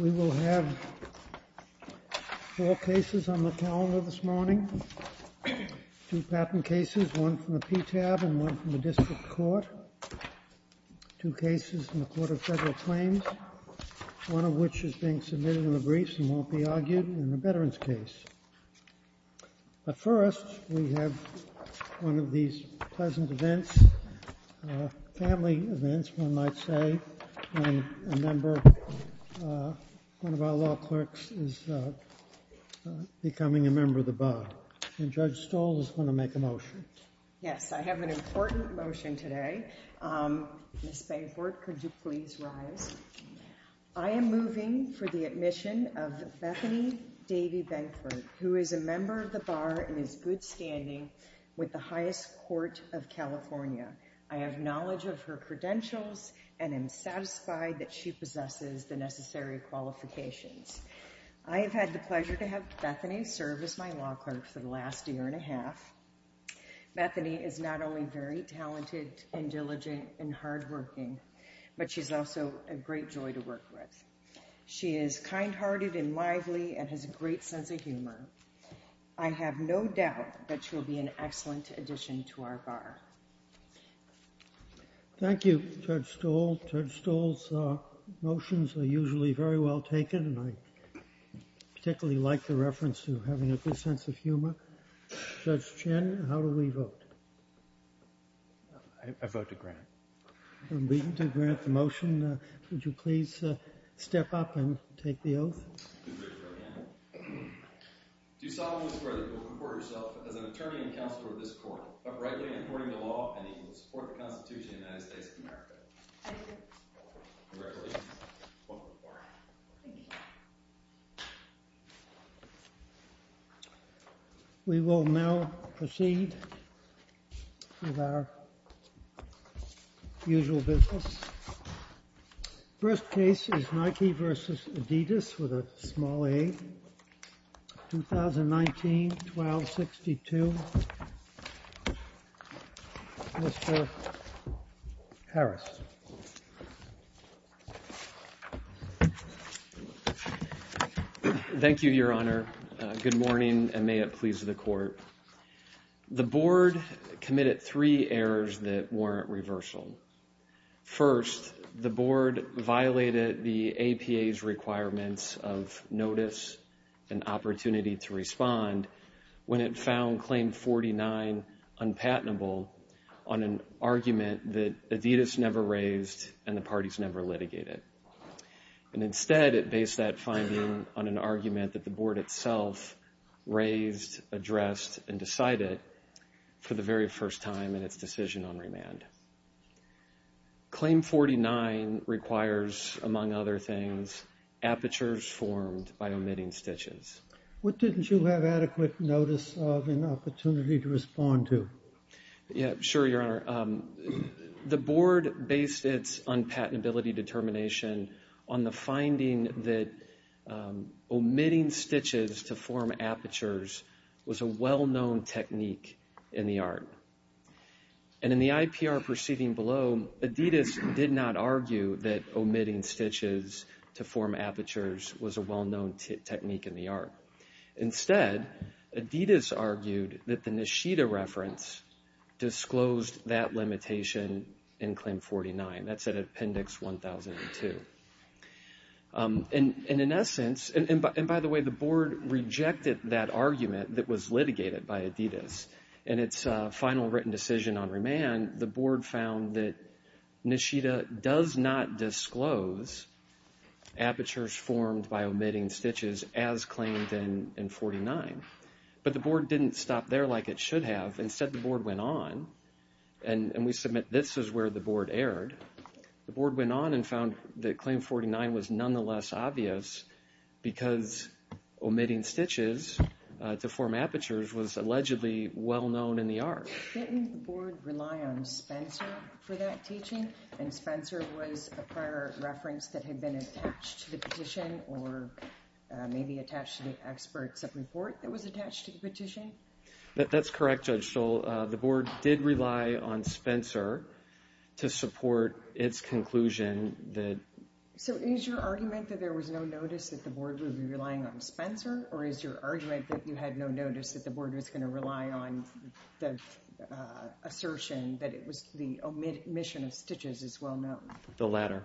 We will have four cases on the calendar this morning, two patent cases, one from the PTAB and one from the District Court, two cases from the Court of Federal Claims, one of which is being submitted in the briefs and won't be argued in the veterans case. But first, we have one of these pleasant events, family events, one might say, when a member, one of our law clerks, is becoming a member of the bar. And Judge Stoll is going to make a motion. Yes, I have an important motion today. Ms. Bancourt, could you please rise? I am moving for the admission of Bethany Davy Bancourt, who is a member of the bar and is good standing with the highest court of California. I have knowledge of her credentials and am satisfied that she possesses the necessary qualifications. I have had the pleasure to have Bethany serve as my law clerk for the last year and a half. Bethany is not only very talented and diligent and hardworking, but she's also a great joy to work with. She is kind-hearted and lively and has a great sense of humor. I have no doubt that she will be an excellent addition to our bar. Thank you, Judge Stoll. Judge Stoll's motions are usually very well taken and I particularly like the reference to having a good sense of humor. Judge Chen, how do we vote? I vote to grant. I'm going to grant the motion. Would you please step up and take the oath? I take the oath. Do solemnly swear that you will report yourself as an attorney and counselor of this court, uprightly and according to law, and equal to the support of the Constitution of the United States of America. I do. Congratulations. Welcome aboard. Thank you. We will now proceed with our usual business. First case is Nike v. Adidas with a small a. 2019-12-62. Mr. Harris. Thank you, Your Honor. Good morning and may it please the court. The board committed three errors that warrant reversal. First, the board violated the APA's requirements of notice and opportunity to respond when it found Claim 49 unpatentable on an argument that Adidas never raised and the parties never litigated. Instead, it based that finding on an argument that the board itself raised, addressed, and decided for the very first time in its decision on remand. Claim 49 requires, among other things, apertures formed by omitting stitches. What didn't you have adequate notice of and opportunity to respond to? Yeah, sure, Your Honor. The board based its unpatentability determination on the finding that omitting stitches to form apertures was a well-known technique in the art. And in the IPR proceeding below, Adidas did not argue that omitting stitches to form apertures was a well-known technique in the art. Instead, Adidas argued that the Nishida reference disclosed that limitation in Claim 49. That's at Appendix 1002. And in essence, and by the way, the board rejected that argument that was litigated by Adidas in its final written decision on remand. The board found that Nishida does not disclose apertures formed by omitting stitches as claimed in 49, but the board didn't stop there like it should have. Instead, the board went on, and we submit this is where the board erred. The board went on and found that Claim 49 was nonetheless obvious because omitting stitches to form apertures was allegedly well-known in the art. Didn't the board rely on Spencer for that teaching? And Spencer was a prior reference that had been attached to the petition or maybe attached to the experts of report that was attached to the petition? That's correct, Judge Stoll. The board did rely on Spencer to support its conclusion that— So is your argument that there was no notice that the board would be relying on Spencer, or is your argument that you had no notice that the board was going to rely on the assertion that the omission of stitches is well-known? The latter.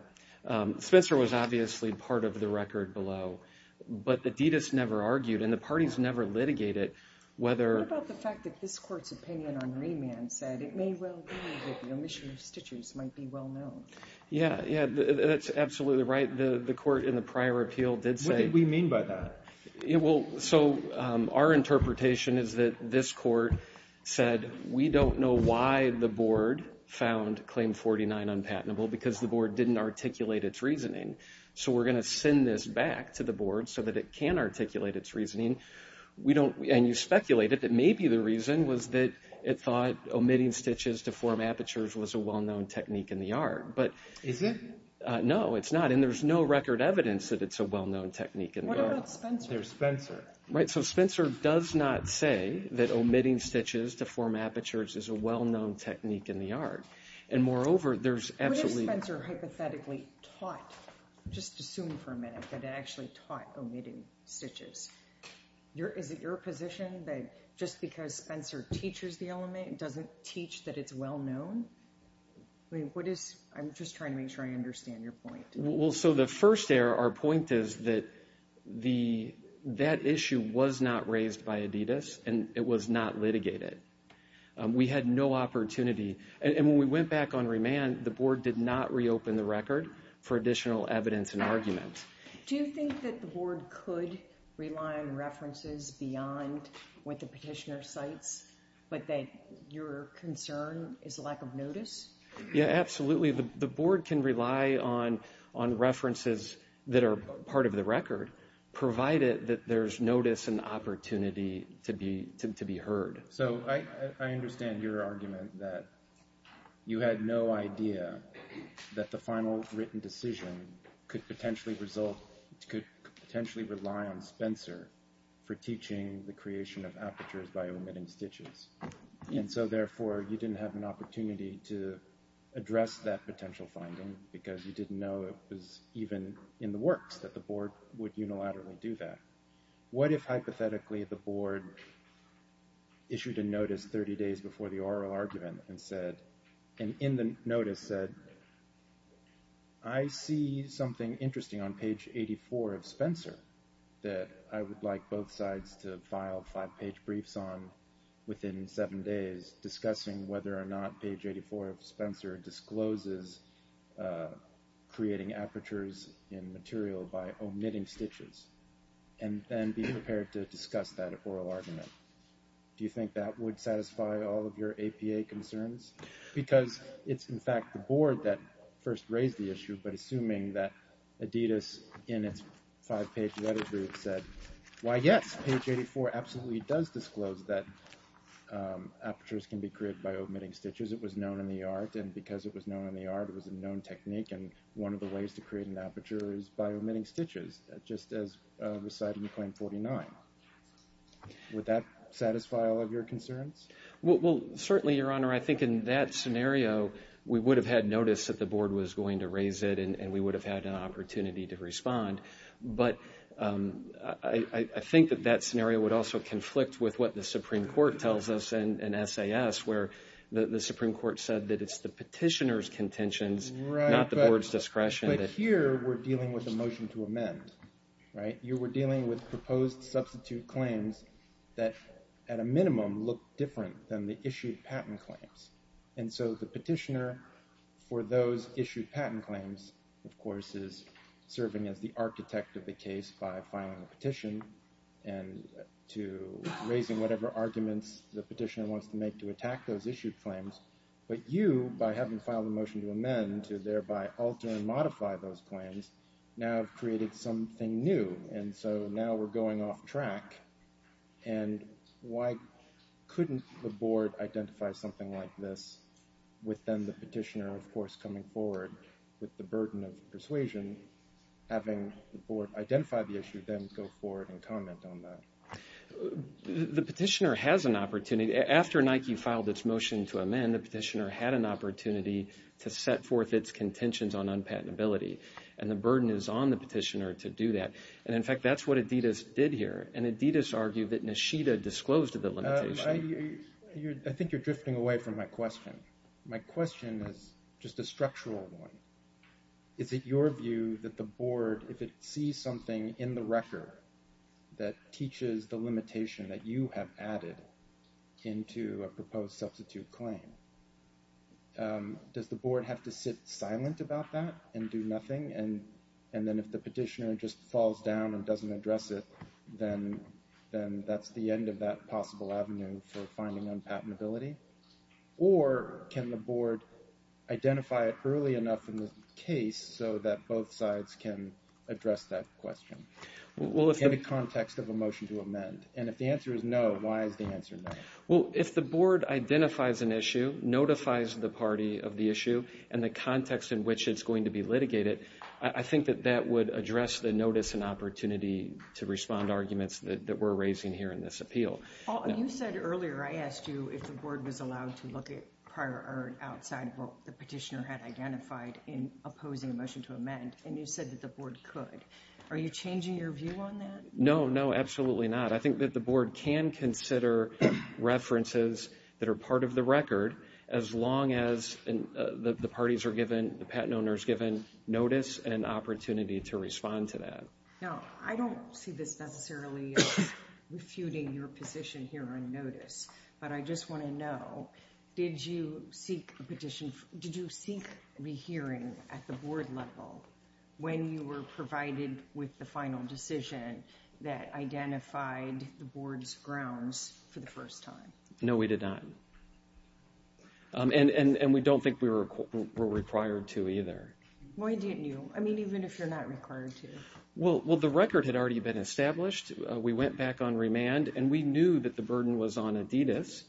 Spencer was obviously part of the record below, but Adidas never argued, and the parties never litigated whether— What about the fact that this court's opinion on remand said it may well be that the omission of stitches might be well-known? Yeah, that's absolutely right. The court in the prior appeal did say— What did we mean by that? So our interpretation is that this court said, we don't know why the board found Claim 49 unpatentable, because the board didn't articulate its reasoning. So we're going to send this back to the board so that it can articulate its reasoning. And you speculated that maybe the reason was that it thought omitting stitches to form apertures was a well-known technique in the art. Is it? No, it's not, and there's no record evidence that it's a well-known technique in the art. What about Spencer? There's Spencer. Right, so Spencer does not say that omitting stitches to form apertures is a well-known technique in the art. And moreover, there's absolutely— What if Spencer hypothetically taught, just assume for a minute, that it actually taught omitting stitches? Is it your position that just because Spencer teaches the element doesn't teach that it's well-known? I'm just trying to make sure I understand your point. Well, so the first error, our point is that that issue was not raised by Adidas, and it was not litigated. We had no opportunity. And when we went back on remand, the board did not reopen the record for additional evidence and argument. Do you think that the board could rely on references beyond what the petitioner cites, but that your concern is a lack of notice? Yeah, absolutely. The board can rely on references that are part of the record, provided that there's notice and opportunity to be heard. So I understand your argument that you had no idea that the final written decision could potentially rely on Spencer for teaching the creation of apertures by omitting stitches. And so, therefore, you didn't have an opportunity to address that potential finding because you didn't know it was even in the works that the board would unilaterally do that. What if, hypothetically, the board issued a notice 30 days before the oral argument and in the notice said, I see something interesting on page 84 of Spencer that I would like both sides to file five-page briefs on within seven days, discussing whether or not page 84 of Spencer discloses creating apertures in material by omitting stitches, and then be prepared to discuss that oral argument? Do you think that would satisfy all of your APA concerns? Because it's, in fact, the board that first raised the issue, but assuming that Adidas, in its five-page letter brief, said, why, yes, page 84 absolutely does disclose that apertures can be created by omitting stitches. It was known in the art, and because it was known in the art, it was a known technique, and one of the ways to create an aperture is by omitting stitches, just as recited in Claim 49. Would that satisfy all of your concerns? Well, certainly, Your Honor, I think in that scenario, we would have had notice that the board was going to raise it, and we would have had an opportunity to respond. But I think that that scenario would also conflict with what the Supreme Court tells us in SAS, where the Supreme Court said that it's the petitioner's contentions, not the board's discretion. Right, but here we're dealing with a motion to amend, right? You were dealing with proposed substitute claims that, at a minimum, look different than the issued patent claims. And so the petitioner, for those issued patent claims, of course, is serving as the architect of the case by filing a petition and to raising whatever arguments the petitioner wants to make to attack those issued claims. But you, by having filed a motion to amend to thereby alter and modify those claims, now have created something new, and so now we're going off track. And why couldn't the board identify something like this, with then the petitioner, of course, coming forward with the burden of persuasion, having the board identify the issue, then go forward and comment on that? The petitioner has an opportunity. After Nike filed its motion to amend, the petitioner had an opportunity to set forth its contentions on unpatentability, and the burden is on the petitioner to do that. And, in fact, that's what Adidas did here, and Adidas argued that Nishita disclosed the limitation. I think you're drifting away from my question. My question is just a structural one. Is it your view that the board, if it sees something in the record that teaches the limitation that you have added into a proposed substitute claim, does the board have to sit silent about that and do nothing? And then if the petitioner just falls down and doesn't address it, then that's the end of that possible avenue for finding unpatentability? Or can the board identify it early enough in the case so that both sides can address that question in the context of a motion to amend? And if the answer is no, why is the answer no? Well, if the board identifies an issue, notifies the party of the issue, and the context in which it's going to be litigated, I think that that would address the notice and opportunity to respond to arguments that we're raising here in this appeal. You said earlier I asked you if the board was allowed to look at prior or outside what the petitioner had identified in opposing a motion to amend, and you said that the board could. Are you changing your view on that? No, no, absolutely not. I think that the board can consider references that are part of the record as long as the parties are given, the patent owner is given notice and an opportunity to respond to that. Now, I don't see this necessarily as refuting your position here on notice, but I just want to know, did you seek a petition, did you seek a hearing at the board level when you were provided with the final decision that identified the board's grounds for the first time? No, we did not. And we don't think we were required to either. Why didn't you? I mean, even if you're not required to. Well, the record had already been established. We went back on remand, and we knew that the burden was on Adidas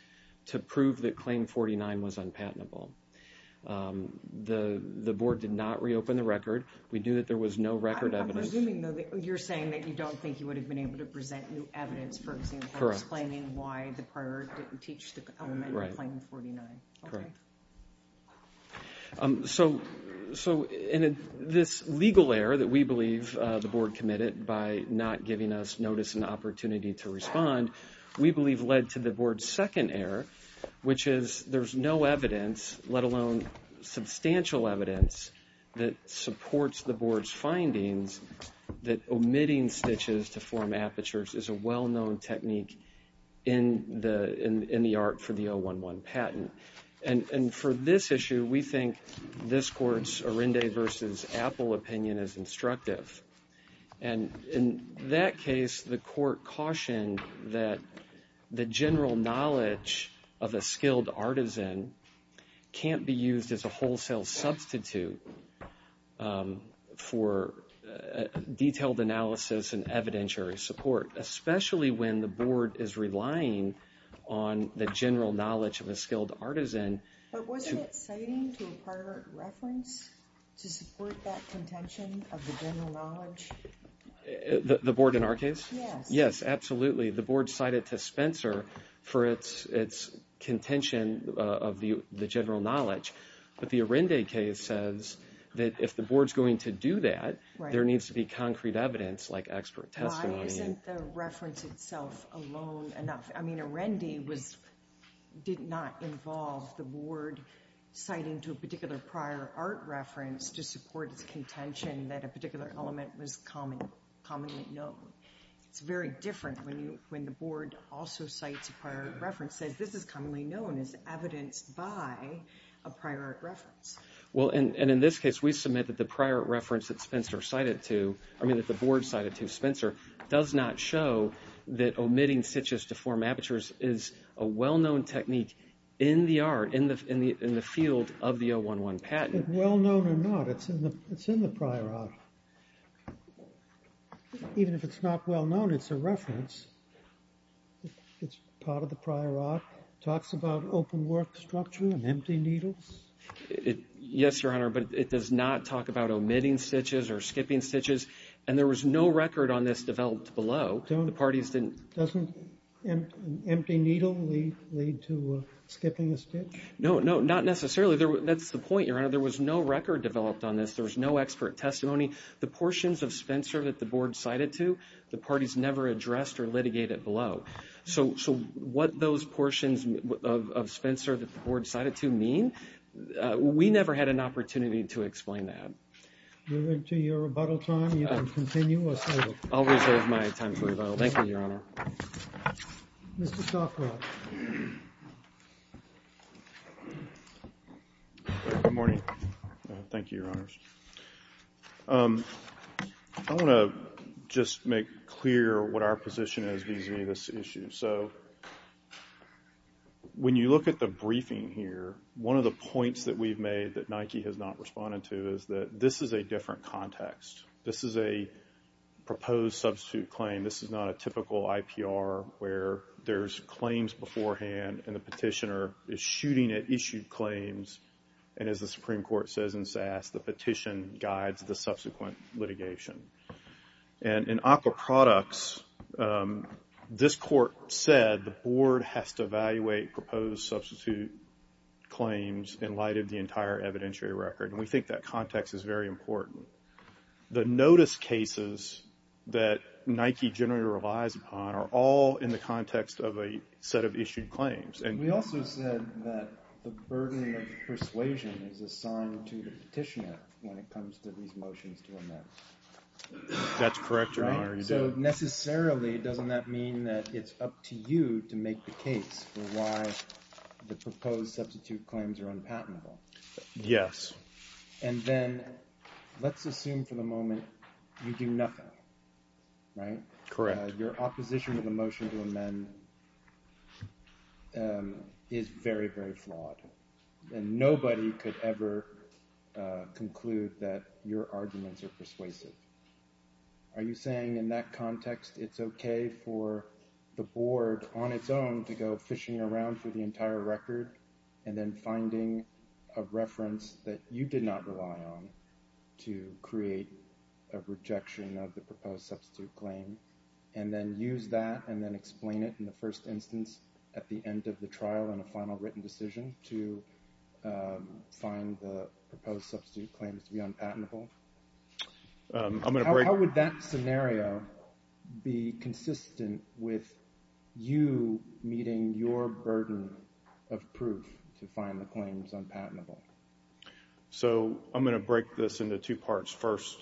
to prove that Claim 49 was unpatentable. The board did not reopen the record. We knew that there was no record evidence. I'm presuming, though, that you're saying that you don't think you would have been able to present new evidence, for example, explaining why the prior didn't teach the element of Claim 49. Correct. So, in this legal error that we believe the board committed by not giving us notice and opportunity to respond, we believe led to the board's second error, which is there's no evidence, that omitting stitches to form apertures is a well-known technique in the art for the 011 patent. And for this issue, we think this Court's Arende v. Apple opinion is instructive. And in that case, the Court cautioned that the general knowledge of a skilled artisan can't be used as a wholesale substitute for detailed analysis and evidentiary support, especially when the board is relying on the general knowledge of a skilled artisan. But wasn't it citing to a prior reference to support that contention of the general knowledge? The board in our case? Yes. Yes, absolutely. The board cited to Spencer for its contention of the general knowledge. But the Arende case says that if the board's going to do that, there needs to be concrete evidence like expert testimony. Why isn't the reference itself alone enough? I mean, Arende did not involve the board citing to a particular prior art reference to support its contention that a particular element was commonly known. It's very different when the board also cites a prior reference, says this is commonly known as evidenced by a prior art reference. Well, and in this case, we submit that the prior reference that the board cited to Spencer does not show that omitting stitches to form apertures is a well-known technique in the art, in the field of the 011 patent. Well-known or not, it's in the prior art. Even if it's not well-known, it's a reference. It's part of the prior art. It talks about open work structure and empty needles. Yes, Your Honor, but it does not talk about omitting stitches or skipping stitches, and there was no record on this developed below. The parties didn't. Doesn't an empty needle lead to skipping a stitch? No, no, not necessarily. That's the point, Your Honor. There was no record developed on this. There was no expert testimony. The portions of Spencer that the board cited to, the parties never addressed or litigated below. So what those portions of Spencer that the board cited to mean, we never had an opportunity to explain that. Moving to your rebuttal time, you can continue or save it. I'll reserve my time for rebuttal. Thank you, Your Honor. Mr. Stoffroth. Good morning. Thank you, Your Honors. I want to just make clear what our position is vis-à-vis this issue. So when you look at the briefing here, one of the points that we've made that Nike has not responded to is that this is a different context. This is a proposed substitute claim. This is not a typical IPR where there's claims beforehand and the petitioner is shooting at issued claims and, as the Supreme Court says in SAS, the petition guides the subsequent litigation. And in Aqua Products, this court said the board has to evaluate proposed substitute claims in light of the entire evidentiary record, and we think that context is very important. The notice cases that Nike generally relies upon are all in the context of a set of issued claims. We also said that the burden of persuasion is assigned to the petitioner when it comes to these motions to amend. That's correct, Your Honor. So necessarily, doesn't that mean that it's up to you to make the case for why the proposed substitute claims are unpatentable? Yes. And then let's assume for the moment you do nothing, right? Correct. Your opposition to the motion to amend is very, very flawed, and nobody could ever conclude that your arguments are persuasive. Are you saying in that context it's okay for the board, on its own, to go fishing around through the entire record and then finding a reference that you did not rely on to create a rejection of the proposed substitute claim and then use that and then explain it in the first instance at the end of the trial in a final written decision to find the proposed substitute claims to be unpatentable? How would that scenario be consistent with you meeting your burden of proof to find the claims unpatentable? So I'm going to break this into two parts. First,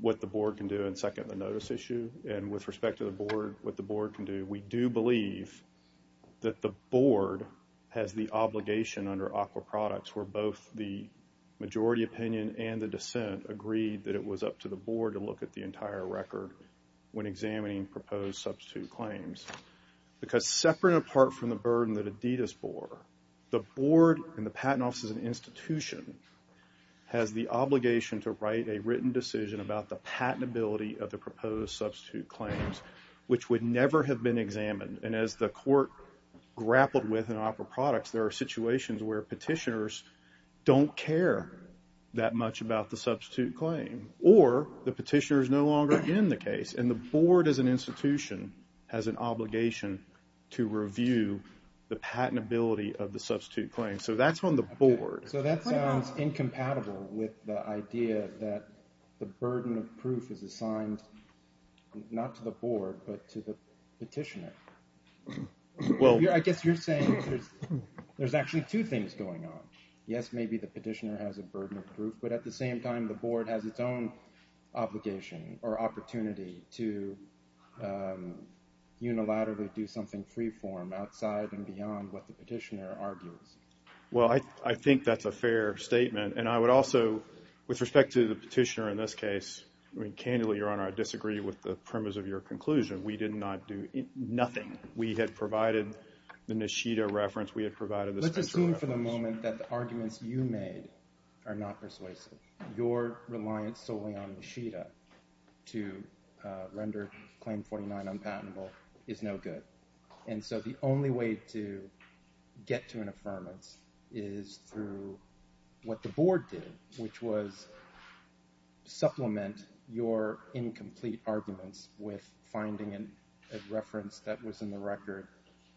what the board can do, and second, the notice issue. And with respect to what the board can do, we do believe that the board has the obligation under ACWA products where both the majority opinion and the dissent agree that it was up to the board to look at the entire record when examining proposed substitute claims. Because separate and apart from the burden that Adidas bore, the board and the patent office as an institution has the obligation to write a written decision about the patentability of the proposed substitute claims, which would never have been examined. And as the court grappled with in OPERA products, there are situations where petitioners don't care that much about the substitute claim or the petitioner is no longer in the case. And the board as an institution has an obligation to review the patentability of the substitute claim. So that's on the board. So that sounds incompatible with the idea that the burden of proof is assigned not to the board but to the petitioner. I guess you're saying there's actually two things going on. Yes, maybe the petitioner has a burden of proof, to unilaterally do something freeform outside and beyond what the petitioner argues. Well, I think that's a fair statement. And I would also, with respect to the petitioner in this case, I mean, candidly, Your Honor, I disagree with the premise of your conclusion. We did not do nothing. We had provided the Nishida reference. We had provided the Spitzer reference. Let's assume for the moment that the arguments you made are not persuasive. Your reliance solely on Nishida to render Claim 49 unpatentable is no good. And so the only way to get to an affirmance is through what the board did, which was supplement your incomplete arguments with finding a reference that was in the record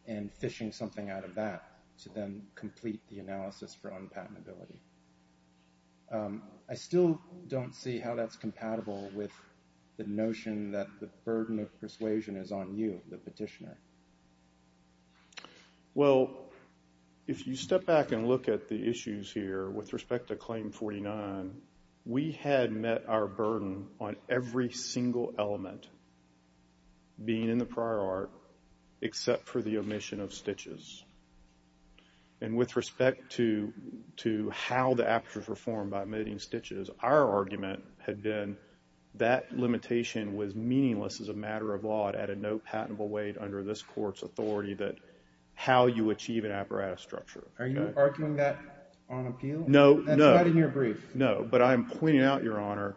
and fishing something out of that to then complete the analysis for unpatentability. I still don't see how that's compatible with the notion that the burden of persuasion is on you, the petitioner. Well, if you step back and look at the issues here with respect to Claim 49, we had met our burden on every single element being in the prior art except for the omission of stitches. And with respect to how the apertures were formed by omitting stitches, our argument had been that limitation was meaningless as a matter of law and had no patentable weight under this Court's authority that how you achieve an apparatus structure. Are you arguing that on appeal? No. That's right in your brief. No, but I'm pointing out, Your Honor,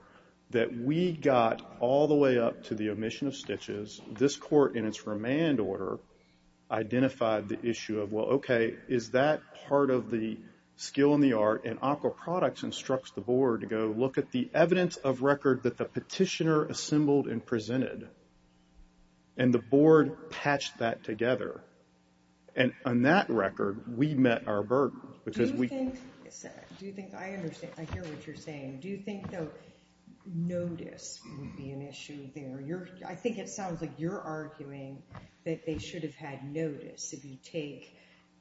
that we got all the way up to the omission of stitches. This Court, in its remand order, identified the issue of, well, okay, is that part of the skill in the art? And Encore Products instructs the board to go look at the evidence of record that the petitioner assembled and presented. And the board patched that together. And on that record, we met our burden. Do you think I understand? I hear what you're saying. Do you think, though, notice would be an issue there? I think it sounds like you're arguing that they should have had notice. If you take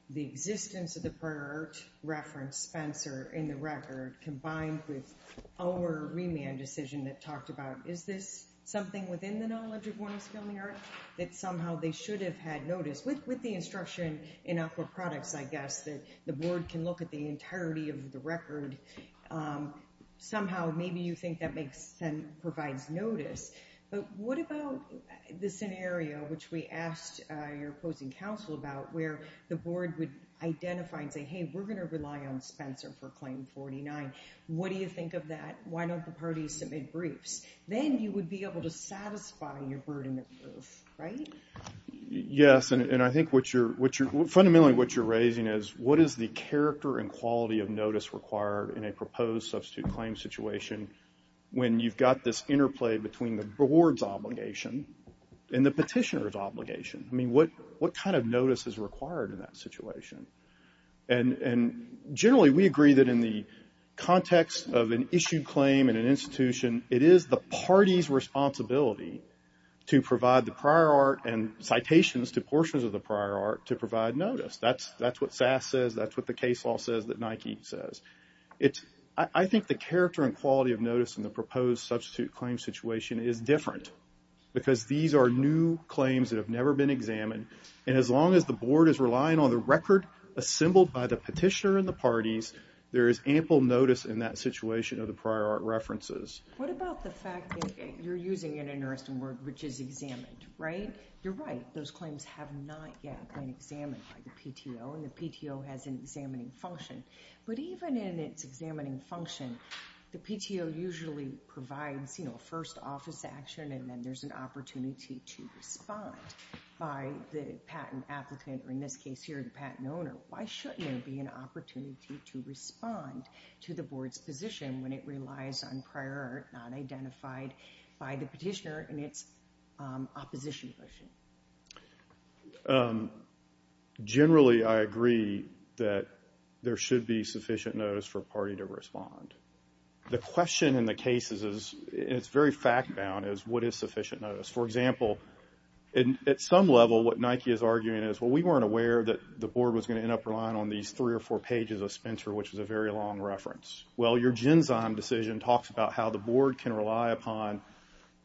the existence of the prior art reference, Spencer, in the record, combined with our remand decision that talked about, is this something within the knowledge of one of the skill in the art, that somehow they should have had notice, with the instruction in Encore Products, I guess, that the board can look at the entirety of the record. Somehow, maybe you think that provides notice. But what about the scenario, which we asked your opposing counsel about, where the board would identify and say, hey, we're going to rely on Spencer for Claim 49. What do you think of that? Why don't the parties submit briefs? Then you would be able to satisfy your burden of proof, right? Yes, and I think fundamentally what you're raising is, what is the character and quality of notice required in a proposed substitute claim situation when you've got this interplay between the board's obligation and the petitioner's obligation? What kind of notice is required in that situation? Generally, we agree that in the context of an issued claim in an institution, it is the party's responsibility to provide the prior art and citations to portions of the prior art to provide notice. That's what SAS says. That's what the case law says that Nike says. I think the character and quality of notice in the proposed substitute claim situation is different because these are new claims that have never been examined. And as long as the board is relying on the record assembled by the petitioner and the parties, there is ample notice in that situation of the prior art references. What about the fact that you're using an interesting word, which is examined, right? You're right. Those claims have not yet been examined by the PTO, and the PTO has an examining function. But even in its examining function, the PTO usually provides a first office action, and then there's an opportunity to respond by the patent applicant, or in this case here, the patent owner. Why shouldn't there be an opportunity to respond to the board's position when it relies on prior art not identified by the petitioner in its opposition position? Generally, I agree that there should be sufficient notice for a party to respond. The question in the cases is, and it's very fact-bound, is what is sufficient notice? For example, at some level, what Nike is arguing is, well, we weren't aware that the board was going to end up relying on these three or four pages of Spencer, which is a very long reference. Well, your Genzyme decision talks about how the board can rely upon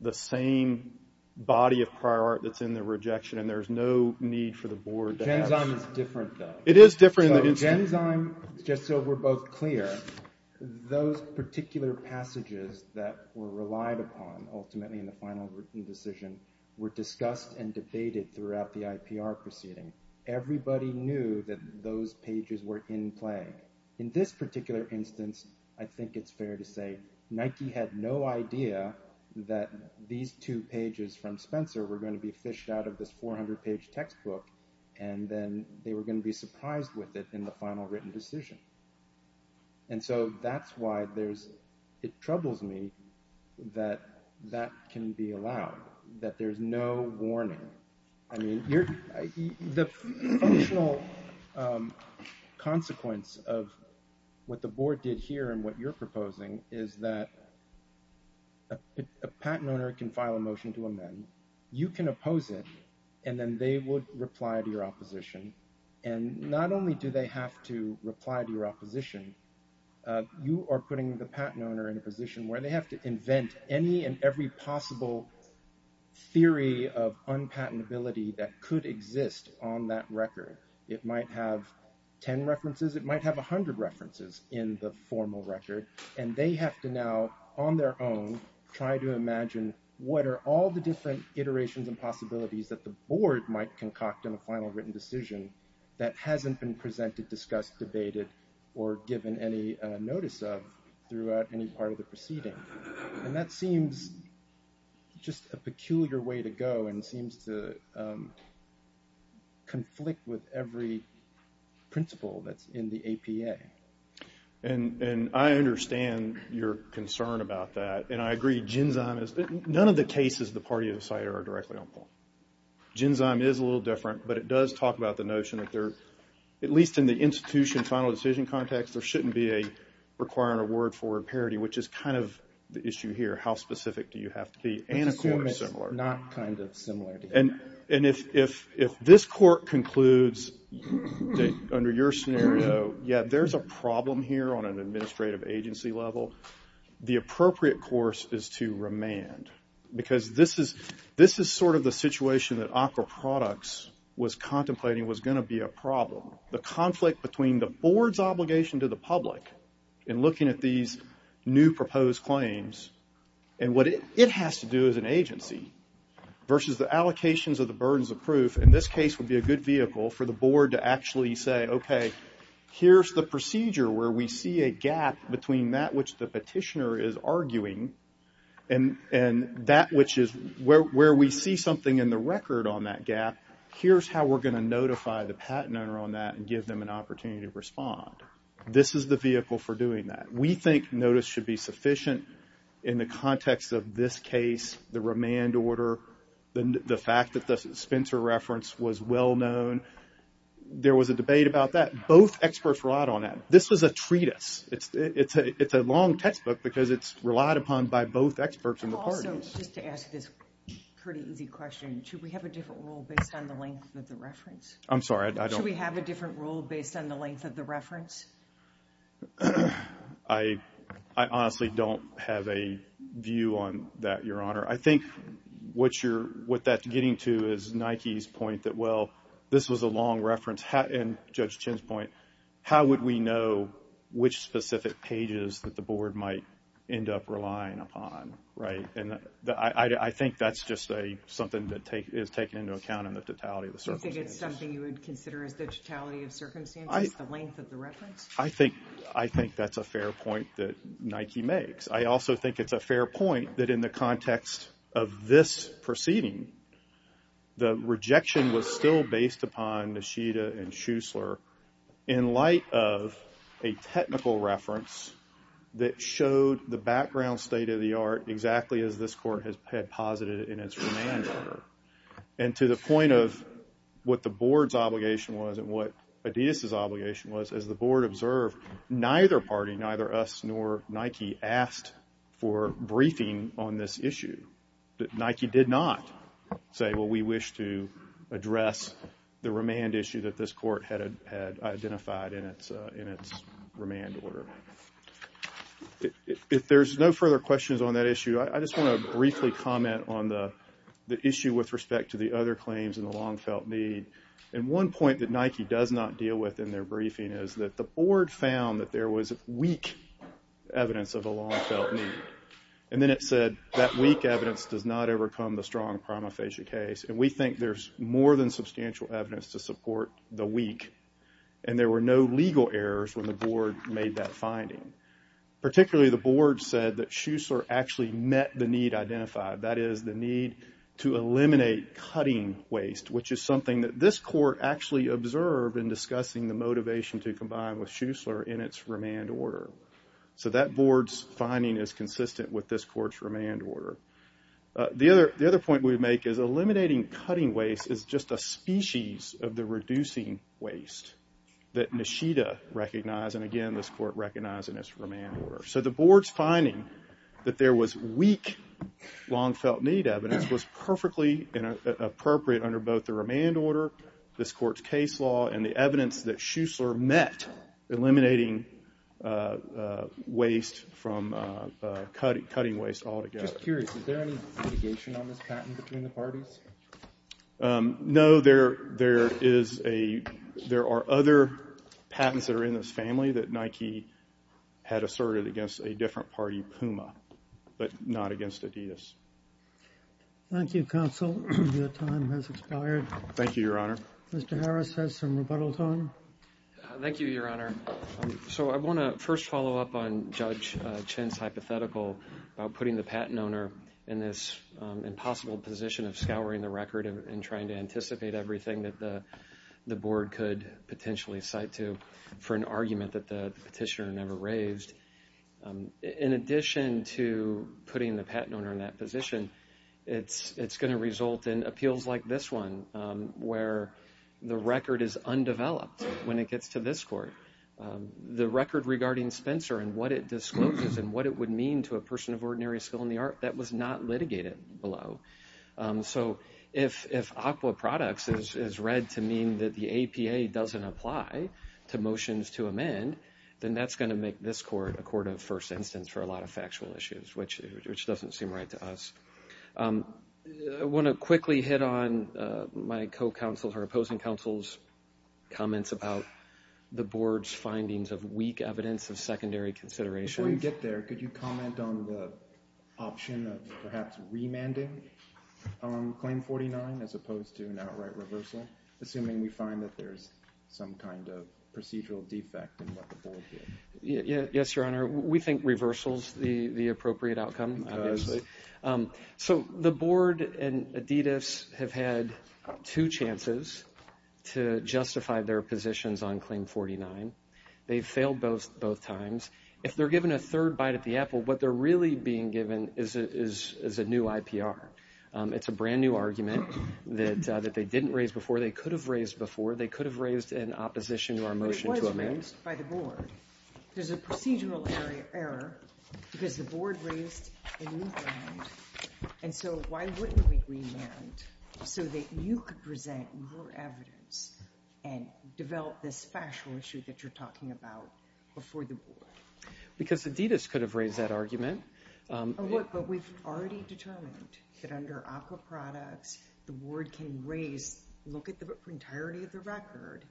the same body of prior art that's in the rejection, and there's no need for the board to have... Genzyme is different, though. It is different. Genzyme, just so we're both clear, those particular passages that were relied upon, ultimately in the final decision, were discussed and debated throughout the IPR proceeding. Everybody knew that those pages were in play. In this particular instance, I think it's fair to say, Nike had no idea that these two pages from Spencer were going to be fished out of this 400-page textbook, and then they were going to be surprised with it in the final written decision. And so that's why it troubles me that that can be allowed, that there's no warning. I mean, the functional consequence of what the board did here and what you're proposing is that a patent owner can file a motion to amend. You can oppose it, and then they would reply to your opposition. And not only do they have to reply to your opposition, you are putting the patent owner in a position where they have to invent any and every possible theory of unpatentability that could exist on that record. It might have 10 references. It might have 100 references in the formal record. And they have to now, on their own, try to imagine what are all the different iterations and possibilities that the board might concoct in a final written decision that hasn't been presented, discussed, debated, or given any notice of throughout any part of the proceeding. And that seems just a peculiar way to go and seems to conflict with every principle that's in the APA. And I understand your concern about that, and I agree. Genzyme is—none of the cases of the party of the CIDR are directly on point. Genzyme is a little different, but it does talk about the notion that there, at least in the institution final decision context, there shouldn't be a requiring a word for a parity, which is kind of the issue here. How specific do you have to be? And a court is similar. I assume it's not kind of similar. And if this court concludes, under your scenario, yeah, there's a problem here on an administrative agency level, the appropriate course is to remand. Because this is sort of the situation that ACRA Products was contemplating was going to be a problem. The conflict between the board's obligation to the public in looking at these new proposed claims and what it has to do as an agency versus the allocations of the burdens of proof, in this case would be a good vehicle for the board to actually say, okay, here's the procedure where we see a gap between that which the petitioner is arguing and that which is where we see something in the record on that gap and here's how we're going to notify the patent owner on that and give them an opportunity to respond. This is the vehicle for doing that. We think notice should be sufficient in the context of this case, the remand order, the fact that the Spencer reference was well known. There was a debate about that. Both experts relied on that. This was a treatise. It's a long textbook because it's relied upon by both experts and the parties. Also, just to ask this pretty easy question, should we have a different rule based on the length of the reference? I'm sorry, I don't. Should we have a different rule based on the length of the reference? I honestly don't have a view on that, Your Honor. I think what that's getting to is Nike's point that, well, this was a long reference and Judge Chin's point, how would we know which specific pages that the board might end up relying upon? I think that's just something that is taken into account in the totality of the circumstances. You think it's something you would consider as the totality of circumstances, the length of the reference? I think that's a fair point that Nike makes. I also think it's a fair point that in the context of this proceeding, the rejection was still based upon Nishida and Schussler in light of a technical reference that showed the background state of the art exactly as this court had posited in its remand order. And to the point of what the board's obligation was and what Adidas' obligation was, as the board observed, neither party, neither us nor Nike, asked for briefing on this issue. Nike did not say, well, we wish to address the remand issue that this court had identified in its remand order. If there's no further questions on that issue, I just want to briefly comment on the issue with respect to the other claims and the long-felt need. And one point that Nike does not deal with in their briefing is that the board found that there was weak evidence of a long-felt need. And then it said that weak evidence does not overcome the strong prima facie case. And we think there's more than substantial evidence to support the weak. And there were no legal errors when the board made that finding. Particularly, the board said that Schussler actually met the need identified, that is, the need to eliminate cutting waste, which is something that this court actually observed in discussing the motivation to combine with Schussler in its remand order. So that board's finding is consistent with this court's remand order. The other point we make is eliminating cutting waste is just a species of the reducing waste that Nishida recognized, and again, this court recognized in its remand order. So the board's finding that there was weak long-felt need evidence was perfectly appropriate under both the remand order, this court's case law, and the evidence that Schussler met in eliminating waste from cutting waste altogether. Just curious, is there any litigation on this patent between the parties? No, there are other patents that are in this family that Nike had asserted against a different party, Puma, but not against Adidas. Thank you, counsel. Your time has expired. Thank you, Your Honor. Mr. Harris has some rebuttal time. Thank you, Your Honor. So I want to first follow up on Judge Chin's hypothetical about putting the patent owner in this impossible position of scouring the record and trying to anticipate everything that the board could potentially cite to for an argument that the petitioner never raised. In addition to putting the patent owner in that position, it's going to result in appeals like this one where the record is undeveloped when it gets to this court. The record regarding Spencer and what it discloses and what it would mean to a person of ordinary skill in the art, that was not litigated below. So if ACWA products is read to mean that the APA doesn't apply to motions to amend, then that's going to make this court a court of first instance for a lot of factual issues, which doesn't seem right to us. I want to quickly hit on my co-counsel's or opposing counsel's comments about the board's findings of weak evidence of secondary considerations. Before you get there, could you comment on the option of perhaps remanding Claim 49 as opposed to an outright reversal, assuming we find that there's some kind of procedural defect in what the board did? Yes, Your Honor. We think reversal is the appropriate outcome, obviously. So the board and ADIDAS have had two chances to justify their positions on Claim 49. They've failed both times. If they're given a third bite at the apple, what they're really being given is a new IPR. It's a brand-new argument that they didn't raise before. They could have raised before. They could have raised in opposition to our motion to amend. It was raised by the board. There's a procedural error because the board raised a new ground. And so why wouldn't we remand so that you could present your evidence and develop this factual issue that you're talking about before the board? Because ADIDAS could have raised that argument. But we've already determined that under aqua products, the board can raise, look at the entirety of the record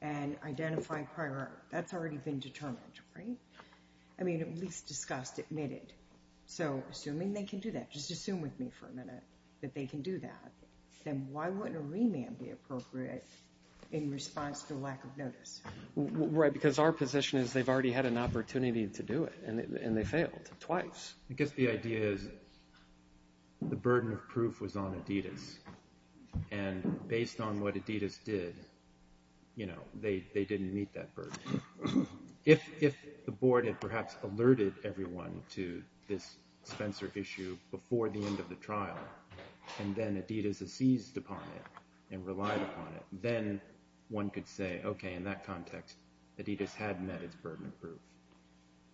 and identify prior error. That's already been determined, right? I mean, at least discussed, admitted. So assuming they can do that, just assume with me for a minute that they can do that, then why wouldn't a remand be appropriate in response to a lack of notice? Right, because our position is they've already had an opportunity to do it, and they failed twice. I guess the idea is the burden of proof was on ADIDAS. And based on what ADIDAS did, you know, they didn't meet that burden. If the board had perhaps alerted everyone to this Spencer issue before the end of the trial, and then ADIDAS had seized upon it and relied upon it, then one could say, okay, in that context, ADIDAS had met its burden of proof,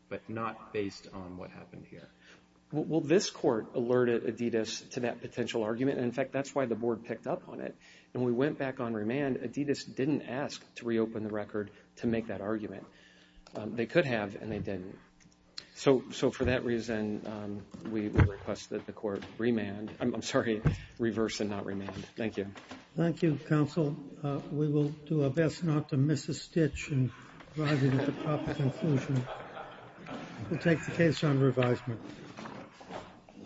but not based on what happened here. Well, this court alerted ADIDAS to that potential argument, and, in fact, that's why the board picked up on it. And when we went back on remand, ADIDAS didn't ask to reopen the record to make that argument. They could have, and they didn't. So for that reason, we request that the court reverse and not remand. Thank you. Thank you, counsel. We will do our best not to miss a stitch in arriving at the proper conclusion. We'll take the case on revisement.